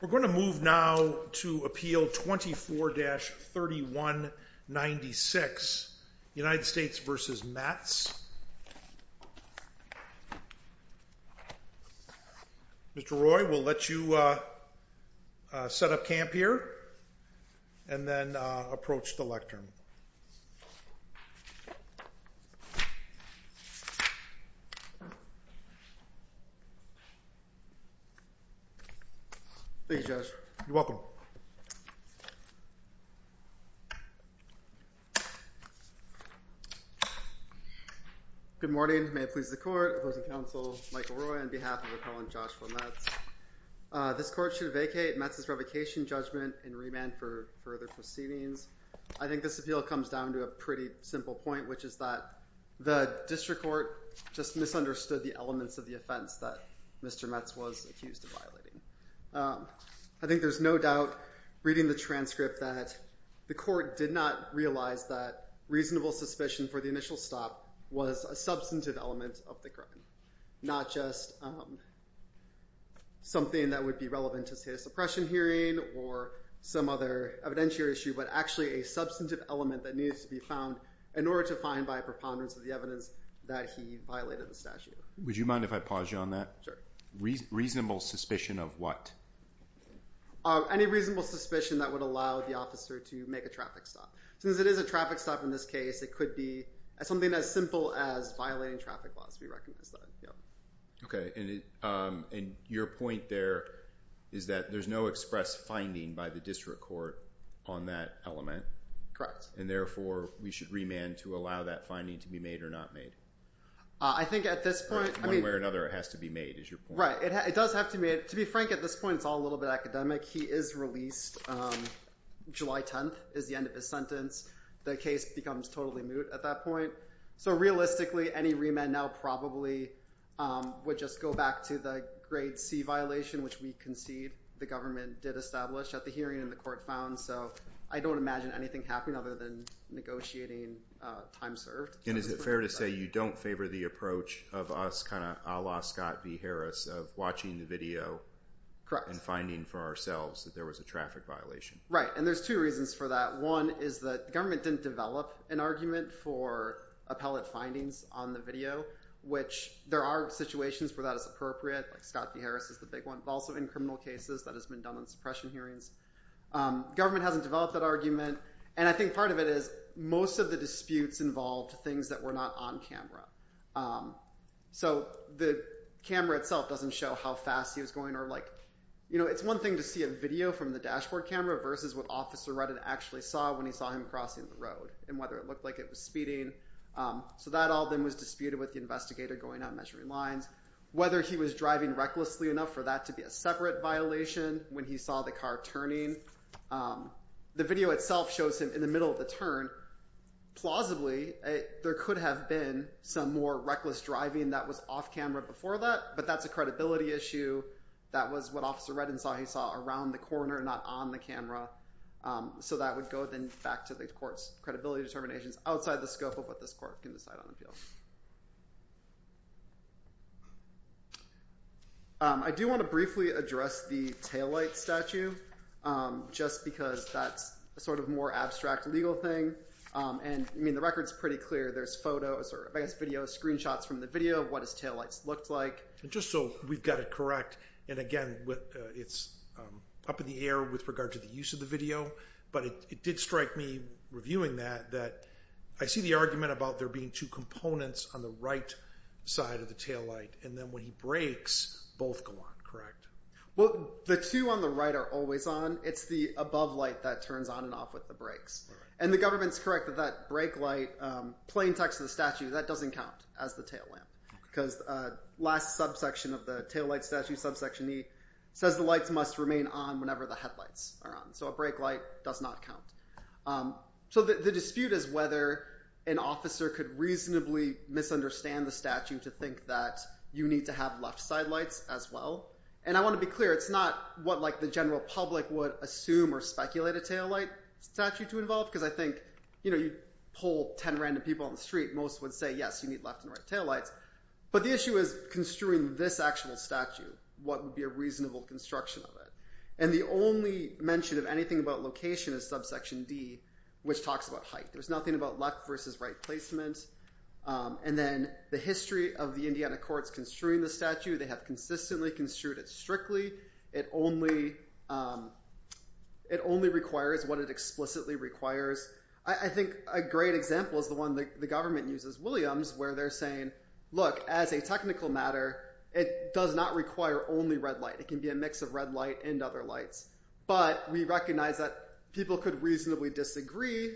We're going to move now to Appeal 24-3196, United States v. Metts. Mr. Roy, we'll let you set up camp here and then approach the lectern. Thank you, Judge. You're welcome. Good morning. May it please the Court, opposing counsel, Michael Roy, on behalf of Appellant Joshua Metts. This Court should vacate Metts' revocation judgment and remand for further proceedings. I think this appeal comes down to a pretty simple point, which is that the District Court just misunderstood the elements of the offense that Mr. Metts was accused of violating. I think there's no doubt, reading the transcript, that the Court did not realize that reasonable suspicion for the initial stop was a substantive element of the crime, not just something that might be relevant to, say, a suppression hearing or some other evidentiary issue, but actually a substantive element that needs to be found in order to find by a preponderance of the evidence that he violated the statute. Would you mind if I pause you on that? Reasonable suspicion of what? Any reasonable suspicion that would allow the officer to make a traffic stop. Since it is a traffic stop in this case, it could be something as simple as violating traffic laws. We recognize that. Okay, and your point there is that there's no express finding by the District Court on that element. And therefore, we should remand to allow that finding to be made or not made. I think at this point— One way or another, it has to be made, is your point. Right. It does have to be made. To be frank, at this point, it's all a little bit academic. He is released July 10th is the end of his sentence. The case becomes totally moot at that point. So realistically, any remand now probably would just go back to the grade C violation, which we concede the government did establish at the hearing and the court found. So I don't imagine anything happening other than negotiating time served. And is it fair to say you don't favor the approach of us, kind of a la Scott v. Harris, of watching the video and finding for ourselves that there was a traffic violation? Right. And there's two reasons for that. One is that the government didn't develop an argument for appellate findings on the video, which there are situations where that is appropriate. Like Scott v. Harris is the big one, but also in criminal cases that has been done on suppression hearings. The government hasn't developed that argument. And I think part of it is most of the disputes involved things that were not on camera. So the camera itself doesn't show how fast he was going or like, you know, it's one thing to see a video from the dashboard camera versus what Officer Reddin actually saw when he saw him crossing the road and whether it looked like it was speeding. So that all then was disputed with the investigator going out measuring lines. Whether he was driving recklessly enough for that to be a separate violation when he saw the car turning. The video itself shows him in the middle of the turn, plausibly there could have been some more reckless driving that was off camera before that, but that's a credibility issue. That was what Officer Reddin saw. He saw around the corner, not on the camera. So that would go then back to the court's credibility determinations outside the scope of what this court can decide on the field. I do want to briefly address the taillight statue just because that's sort of more abstract legal thing. And, I mean, the record's pretty clear. There's photos or I guess video screenshots from the video of what his taillights looked like. And just so we've got it correct, and again, it's up in the air with regard to the use of the video, but it did strike me reviewing that, that I see the argument about there being two components on the right side of the taillight and then when he brakes, both go on. Correct? Well, the two on the right are always on. It's the above light that turns on and off with the brakes. And the government's correct that that brake light, plain text of the statue, that doesn't count as the taillight because last subsection of the taillight statue, subsection E, says the lights must remain on whenever the headlights are on. So a brake light does not count. So the dispute is whether an officer could reasonably misunderstand the statue to think that you need to have left side lights as well. And I want to be clear, it's not what like the general public would assume or speculate a taillight statue to involve because I think, you know, you pull 10 random people on the street and they just need left and right taillights, but the issue is construing this actual statue, what would be a reasonable construction of it. And the only mention of anything about location is subsection D, which talks about height. There's nothing about left versus right placement. And then the history of the Indiana courts construing the statue, they have consistently construed it strictly. It only requires what it explicitly requires. I think a great example is the one the government uses, Williams, where they're saying, look, as a technical matter, it does not require only red light. It can be a mix of red light and other lights. But we recognize that people could reasonably disagree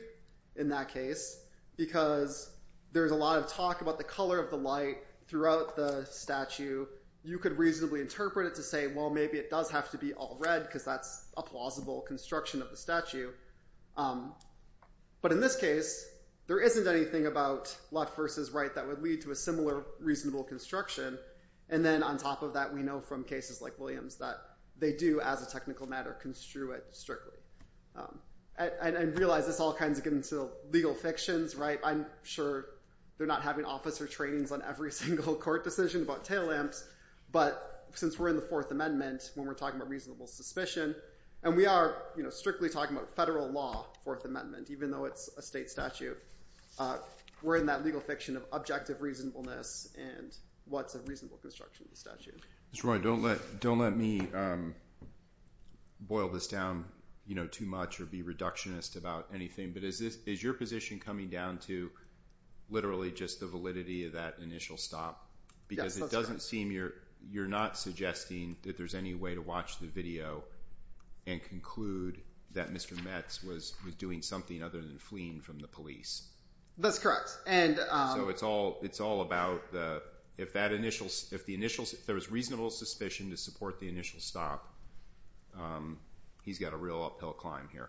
in that case because there's a lot of talk about the color of the light throughout the statue. You could reasonably interpret it to say, well, maybe it does have to be all red because that's a plausible construction of the statue. But in this case, there isn't anything about left versus right that would lead to a similar reasonable construction. And then on top of that, we know from cases like Williams that they do, as a technical matter, construe it strictly. And I realize this all kinds of gets into legal fictions, right? I'm sure they're not having officer trainings on every single court decision about taillamps, But since we're in the Fourth Amendment, when we're talking about reasonable suspicion, and we are strictly talking about federal law, Fourth Amendment, even though it's a state statute, we're in that legal fiction of objective reasonableness and what's a reasonable construction of the statue. Mr. Roy, don't let me boil this down too much or be reductionist about anything, but is your position coming down to literally just the validity of that initial stop? Because it doesn't seem you're not suggesting that there's any way to watch the video and conclude that Mr. Metz was doing something other than fleeing from the police. That's correct. So it's all about if there was reasonable suspicion to support the initial stop, he's got a real uphill climb here.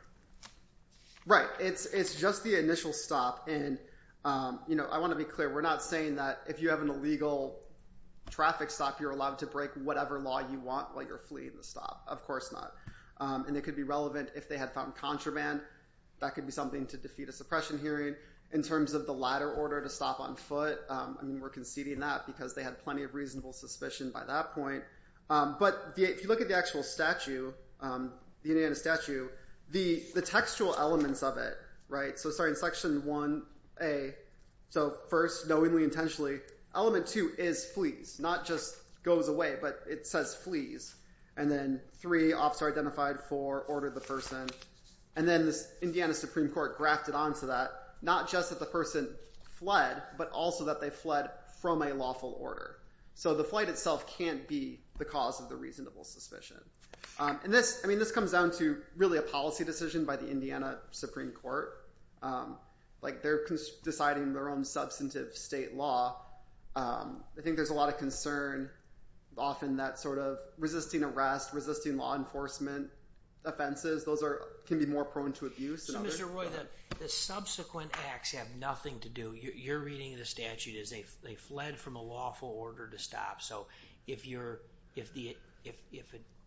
Right. It's just the initial stop. And I want to be clear, we're not saying that if you have an illegal traffic stop, you're allowed to break whatever law you want while you're fleeing the stop. Of course not. And it could be relevant if they had found contraband, that could be something to defeat a suppression hearing. In terms of the latter order to stop on foot, I mean, we're conceding that because they had plenty of reasonable suspicion by that point. But if you look at the actual statue, the Indiana statue, the textual elements of it, so sorry, in section 1A, so first, knowingly, intentionally, element two is flees, not just goes away, but it says flees. And then three, officer identified, four, order the person. And then the Indiana Supreme Court grafted onto that, not just that the person fled, but also that they fled from a lawful order. So the flight itself can't be the cause of the reasonable suspicion. And this, I mean, this comes down to really a policy decision by the Indiana Supreme Court. Like they're deciding their own substantive state law. I think there's a lot of concern often that sort of resisting arrest, resisting law enforcement offenses, those can be more prone to abuse than others. So Mr. Roy, the subsequent acts have nothing to do, you're reading the statute as they fled from a lawful order to stop. So if a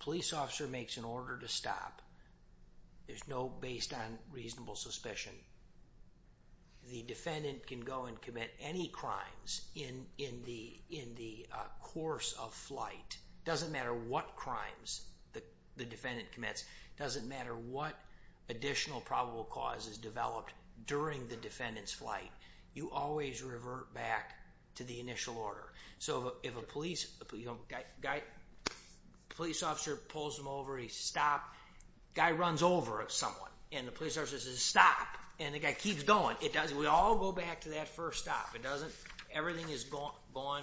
police officer makes an order to stop, there's no, based on reasonable suspicion, the defendant can go and commit any crimes in the course of flight, doesn't matter what crimes the defendant commits, doesn't matter what additional probable cause is developed during the defendant's flight, you always revert back to the initial order. So if a police officer pulls him over, he's stopped, guy runs over someone, and the police officer says, stop, and the guy keeps going, it doesn't, we all go back to that first stop, it doesn't, everything is gone.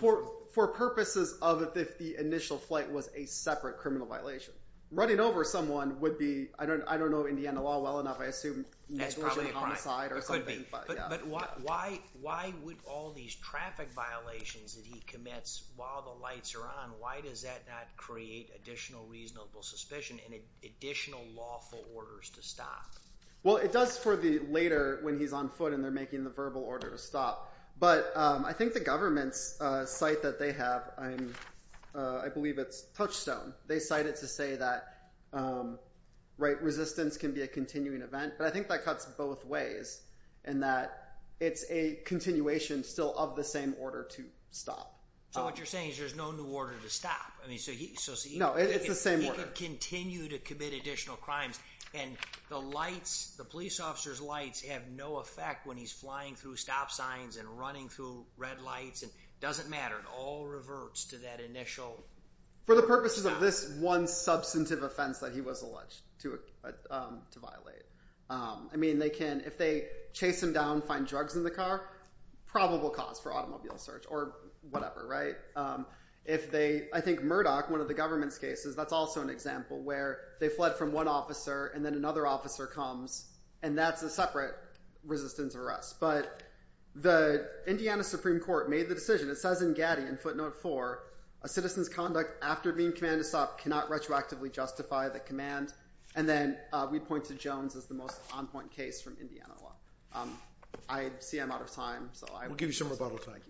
For purposes of if the initial flight was a separate criminal violation, running over someone would be, I don't know Indiana law well enough, I assume negligent homicide or something. But why would all these traffic violations that he commits while the lights are on, why does that not create additional reasonable suspicion and additional lawful orders to stop? Well it does for the later, when he's on foot and they're making the verbal order to stop. But I think the government's site that they have, I believe it's Touchstone, they cite it to say that resistance can be a continuing event, but I think that cuts both ways. And that it's a continuation still of the same order to stop. So what you're saying is there's no new order to stop? No, it's the same order. So he can continue to commit additional crimes and the lights, the police officer's lights have no effect when he's flying through stop signs and running through red lights, it doesn't matter, it all reverts to that initial stop. For the purposes of this one substantive offense that he was alleged to violate, I mean they can, if they chase him down, find drugs in the car, probable cause for automobile search or whatever, right? If they, I think Murdoch, one of the government's cases, that's also an example where they fled from one officer and then another officer comes and that's a separate resistance arrest. But the Indiana Supreme Court made the decision, it says in Gaddy in footnote four, a citizen's conduct after being commanded to stop cannot retroactively justify the command. And then we point to Jones as the most on-point case from Indiana law. I see I'm out of time, so I will give you some rebuttal time.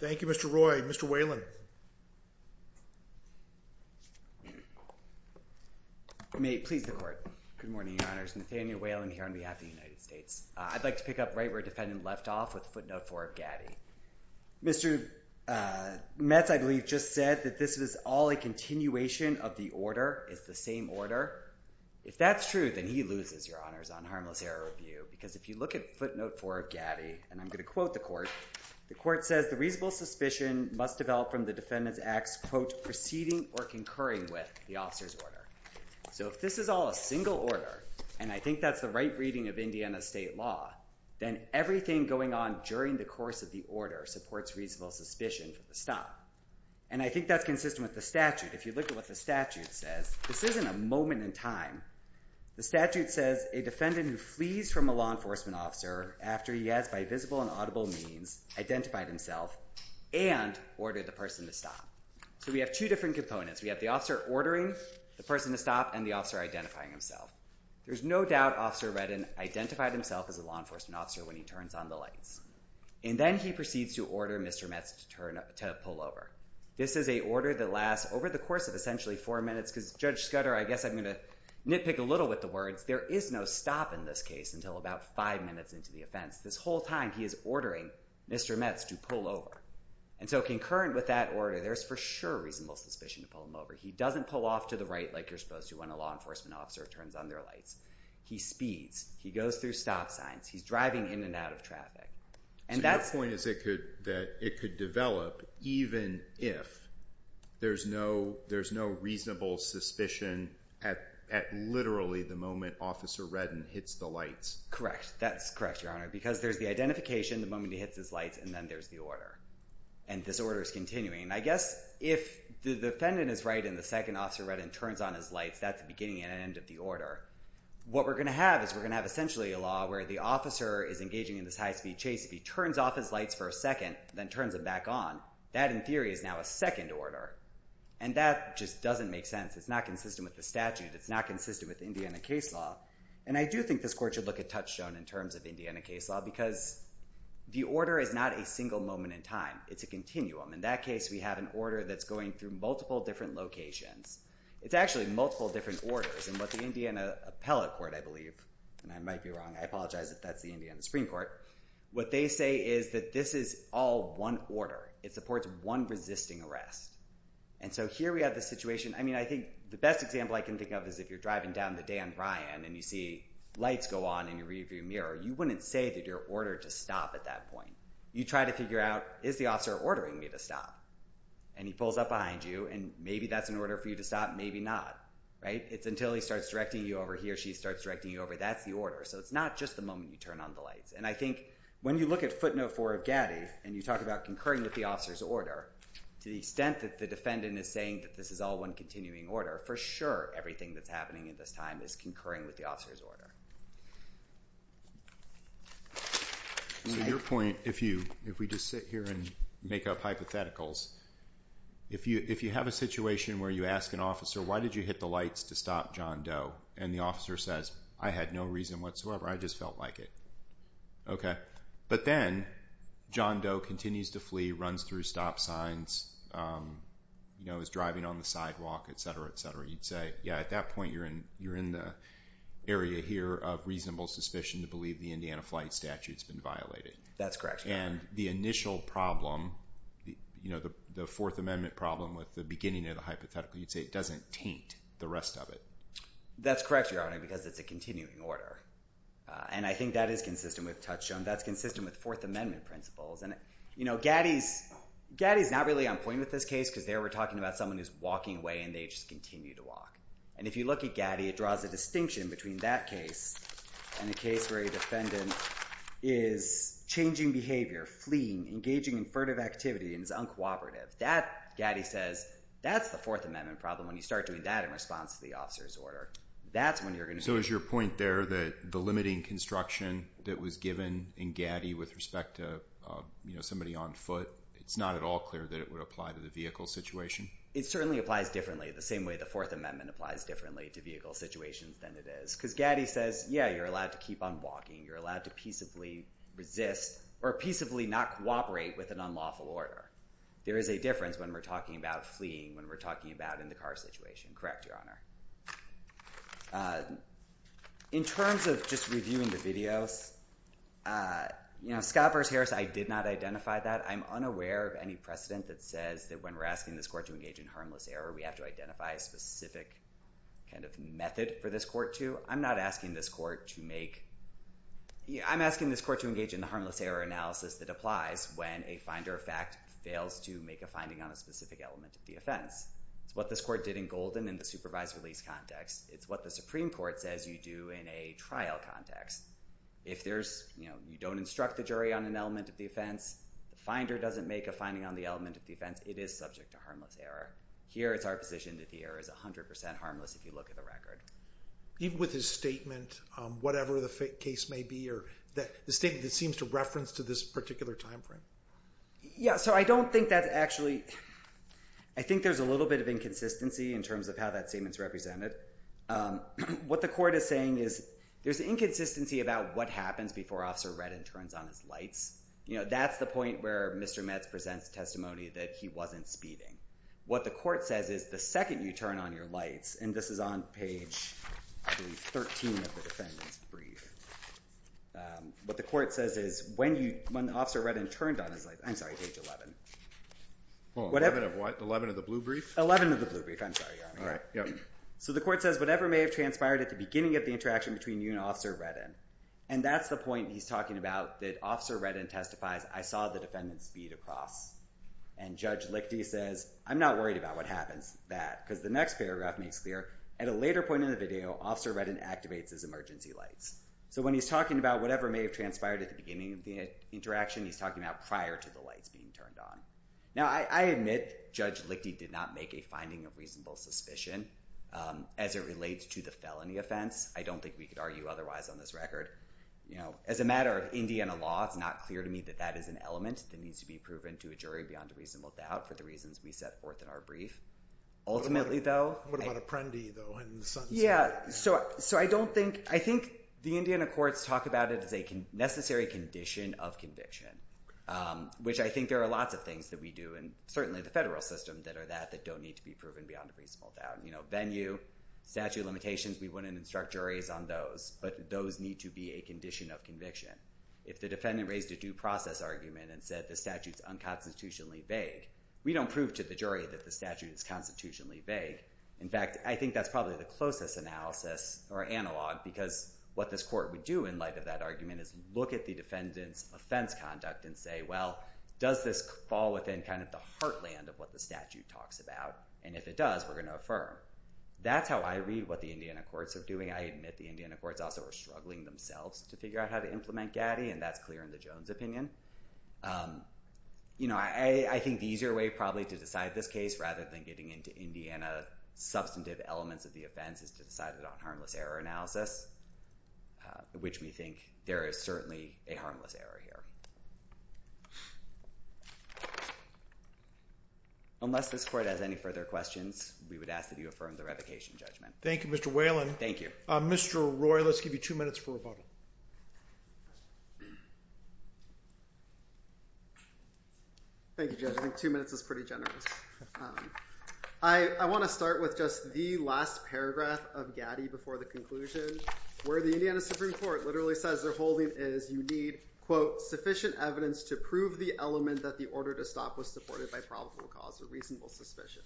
Thank you, Mr. Roy. Mr. Whalen. May it please the court. Good morning, your honors. Nathaniel Whalen here on behalf of the United States. I'd like to pick up right where defendant left off with footnote four of Gaddy. Mr. Metz, I believe, just said that this is all a continuation of the order, it's the same order. If that's true, then he loses, your honors, on harmless error review because if you look at footnote four of Gaddy, and I'm going to quote the court, the court says the reasonable suspicion must develop from the defendant's acts, quote, proceeding or concurring with the officer's order. So if this is all a single order, and I think that's the right reading of Indiana state law, then everything going on during the course of the order supports reasonable suspicion for the stop. And I think that's consistent with the statute. And if you look at what the statute says, this isn't a moment in time. The statute says a defendant who flees from a law enforcement officer after he has, by visible and audible means, identified himself and ordered the person to stop. So we have two different components. We have the officer ordering the person to stop and the officer identifying himself. There's no doubt Officer Reddin identified himself as a law enforcement officer when he turns on the lights. And then he proceeds to order Mr. Metz to pull over. This is a order that lasts over the course of essentially four minutes, because Judge Scudder, I guess I'm going to nitpick a little with the words. There is no stop in this case until about five minutes into the offense. This whole time he is ordering Mr. Metz to pull over. And so concurrent with that order, there's for sure reasonable suspicion to pull him over. He doesn't pull off to the right like you're supposed to when a law enforcement officer turns on their lights. He speeds. He goes through stop signs. He's driving in and out of traffic. So your point is that it could develop even if there's no reasonable suspicion at literally the moment Officer Reddin hits the lights. Correct. That's correct, Your Honor. Because there's the identification the moment he hits his lights and then there's the order. And this order is continuing. And I guess if the defendant is right and the second Officer Reddin turns on his lights, that's the beginning and end of the order. What we're going to have is we're going to have essentially a law where the officer is engaging in this high-speed chase. If he turns off his lights for a second, then turns them back on, that in theory is now a second order. And that just doesn't make sense. It's not consistent with the statute. It's not consistent with Indiana case law. And I do think this court should look at Touchstone in terms of Indiana case law because the order is not a single moment in time. It's a continuum. In that case, we have an order that's going through multiple different locations. It's actually multiple different orders. And what the Indiana appellate court, I believe, and I might be wrong, I apologize if that's Indiana Supreme Court, what they say is that this is all one order. It supports one resisting arrest. And so here we have the situation, I mean, I think the best example I can think of is if you're driving down the Dan Ryan and you see lights go on in your rearview mirror, you wouldn't say that you're ordered to stop at that point. You try to figure out, is the officer ordering me to stop? And he pulls up behind you and maybe that's an order for you to stop, maybe not, right? It's until he starts directing you over here, she starts directing you over there, that's the order. So it's not just the moment you turn on the lights. And I think when you look at footnote four of Gaddy and you talk about concurring with the officer's order, to the extent that the defendant is saying that this is all one continuing order, for sure everything that's happening at this time is concurring with the officer's So your point, if we just sit here and make up hypotheticals, if you have a situation where you ask an officer, why did you hit the lights to stop John Doe? And the officer says, I had no reason whatsoever, I just felt like it. But then John Doe continues to flee, runs through stop signs, is driving on the sidewalk, etc., etc. You'd say, yeah, at that point you're in the area here of reasonable suspicion to believe the Indiana flight statute's been violated. That's correct. And the initial problem, the Fourth Amendment problem with the beginning of the hypothetical, you'd say it doesn't taint the rest of it. That's correct, Your Honor, because it's a continuing order. And I think that is consistent with Touchstone. That's consistent with Fourth Amendment principles. And you know, Gaddy's not really on point with this case because there we're talking about someone who's walking away and they just continue to walk. And if you look at Gaddy, it draws a distinction between that case and a case where a defendant is changing behavior, fleeing, engaging in furtive activity, and is uncooperative. If that, Gaddy says, that's the Fourth Amendment problem when you start doing that in response to the officer's order. That's when you're going to- So is your point there that the limiting construction that was given in Gaddy with respect to somebody on foot, it's not at all clear that it would apply to the vehicle situation? It certainly applies differently, the same way the Fourth Amendment applies differently to vehicle situations than it is. Because Gaddy says, yeah, you're allowed to keep on walking. You're allowed to peaceably resist or peaceably not cooperate with an unlawful order. There is a difference when we're talking about fleeing, when we're talking about in the car situation. Correct, Your Honor. In terms of just reviewing the videos, you know, Scott v. Harris, I did not identify that. I'm unaware of any precedent that says that when we're asking this court to engage in harmless error, we have to identify a specific kind of method for this court to. I'm not asking this court to make- I'm asking this court to engage in the harmless error analysis that applies when a finder in fact fails to make a finding on a specific element of the offense. It's what this court did in Golden in the supervised release context. It's what the Supreme Court says you do in a trial context. If there's, you know, you don't instruct the jury on an element of the offense, the finder doesn't make a finding on the element of the offense, it is subject to harmless error. Here it's our position that the error is 100% harmless if you look at the record. Even with his statement, whatever the case may be, or the statement that seems to reference to this particular time frame. Yeah. So I don't think that actually- I think there's a little bit of inconsistency in terms of how that statement's represented. What the court is saying is there's inconsistency about what happens before Officer Reddin turns on his lights. You know, that's the point where Mr. Metz presents testimony that he wasn't speeding. What the court says is the second you turn on your lights, and this is on page, I believe, 13 of the defendant's brief. What the court says is when you- when Officer Reddin turned on his lights- I'm sorry, page 11. Oh, 11 of what? 11 of the blue brief? 11 of the blue brief. I'm sorry. You're on the right. All right. Yep. So the court says whatever may have transpired at the beginning of the interaction between you and Officer Reddin. And that's the point he's talking about, that Officer Reddin testifies, I saw the defendant speed across. And Judge Lichty says, I'm not worried about what happens, that. Because the next paragraph makes clear, at a later point in the video, Officer Reddin activates his emergency lights. So when he's talking about whatever may have transpired at the beginning of the interaction, he's talking about prior to the lights being turned on. Now I admit Judge Lichty did not make a finding of reasonable suspicion as it relates to the felony offense. I don't think we could argue otherwise on this record. You know, as a matter of Indiana law, it's not clear to me that that is an element that needs to be proven to a jury beyond a reasonable doubt for the reasons we set forth in our Ultimately, though- What about Apprendi, though, in the sentence? Yeah, so I don't think- I think the Indiana courts talk about it as a necessary condition of conviction, which I think there are lots of things that we do, and certainly the federal system that are that, that don't need to be proven beyond a reasonable doubt. You know, venue, statute of limitations, we wouldn't instruct juries on those. But those need to be a condition of conviction. If the defendant raised a due process argument and said the statute's unconstitutionally vague, we don't prove to the jury that the statute is constitutionally vague. In fact, I think that's probably the closest analysis or analog because what this court would do in light of that argument is look at the defendant's offense conduct and say, well, does this fall within kind of the heartland of what the statute talks about? And if it does, we're going to affirm. That's how I read what the Indiana courts are doing. I admit the Indiana courts also are struggling themselves to figure out how to implement GATI, and that's clear in the Jones opinion. You know, I think the easier way probably to decide this case rather than getting into Indiana substantive elements of the offense is to decide it on harmless error analysis, which we think there is certainly a harmless error here. Unless this court has any further questions, we would ask that you affirm the revocation judgment. Thank you, Mr. Whalen. Thank you. Mr. Roy, let's give you two minutes for rebuttal. Thank you, Judge. I think two minutes is pretty generous. I want to start with just the last paragraph of GATI before the conclusion, where the Indiana Supreme Court literally says their holding is you need, quote, sufficient evidence to prove the element that the order to stop was supported by probable cause or reasonable suspicion.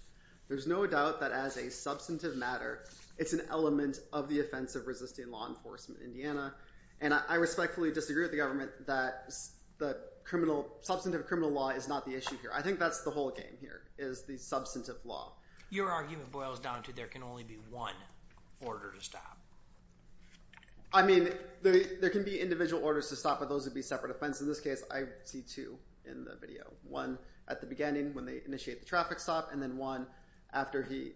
There's no doubt that as a substantive matter, it's an element of the offense of resisting law enforcement in Indiana. And I respectfully disagree with the government that the criminal, substantive criminal law is not the issue here. I think that's the whole game here, is the substantive law. Your argument boils down to there can only be one order to stop. I mean, there can be individual orders to stop, but those would be separate offenses. In this case, I see two in the video. One at the beginning when they initiate the traffic stop, and then one after he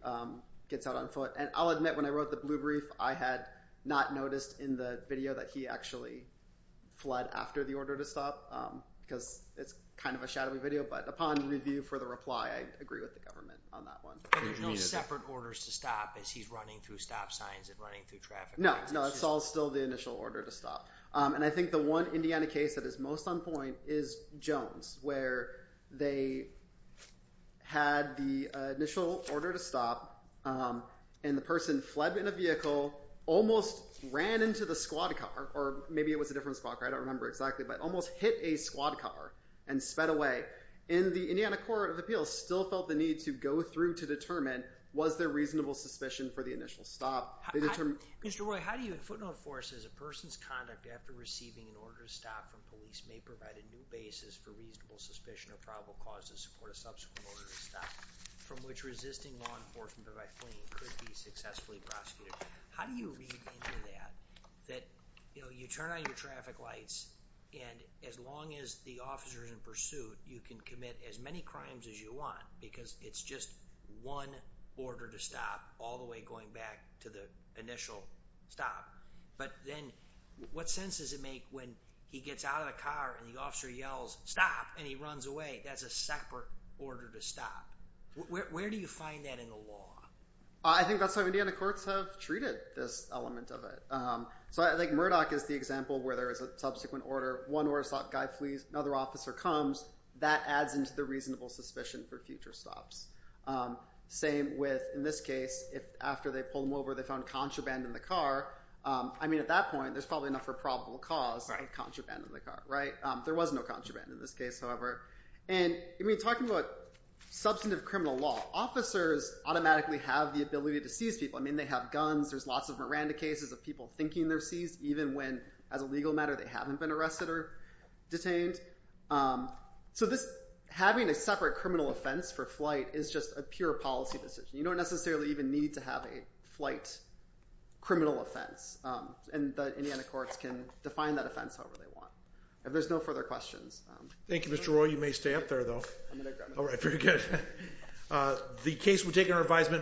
gets out on foot. And I'll admit when I wrote the blue brief, I had not noticed in the video that he actually fled after the order to stop, because it's kind of a shadowy video. But upon review for the reply, I agree with the government on that one. There's no separate orders to stop as he's running through stop signs and running through traffic lights. No, no. It's all still the initial order to stop. And I think the one Indiana case that is most on point is Jones, where they had the initial order to stop, and the person fled in a vehicle, almost ran into the squad car, or maybe it was a different squad car. I don't remember exactly, but almost hit a squad car and sped away. In the Indiana Court of Appeals, still felt the need to go through to determine was there reasonable suspicion for the initial stop. They determined- Mr. Roy, how do you footnote for us as a person's conduct after receiving an order to stop from police may provide a new basis for reasonable suspicion or probable cause to support a subsequent order to stop, from which resisting law enforcement by fleeing could be successfully prosecuted? How do you read into that, that, you know, you turn on your traffic lights, and as long as the officer is in pursuit, you can commit as many crimes as you want, because it's just one order to stop, all the way going back to the initial stop. But then, what sense does it make when he gets out of the car and the officer yells, stop, and he runs away? That's a separate order to stop. Where do you find that in the law? I think that's how Indiana courts have treated this element of it. So I think Murdoch is the example where there is a subsequent order. One order to stop, guy flees, another officer comes. That adds into the reasonable suspicion for future stops. Same with, in this case, if after they pulled him over, they found contraband in the car. I mean, at that point, there's probably enough for probable cause of contraband in the car, right? There was no contraband in this case, however. And I mean, talking about substantive criminal law, officers automatically have the ability to seize people. I mean, they have guns. There's lots of Miranda cases of people thinking they're seized, even when, as a legal matter, they haven't been arrested or detained. So this, having a separate criminal offense for flight is just a pure policy decision. You don't necessarily even need to have a flight criminal offense, and the Indiana courts can define that offense however they want. If there's no further questions. Thank you, Mr. Roy. You may stay up there, though. I'm going to grab my phone. All right, very good. The case will take an advisement.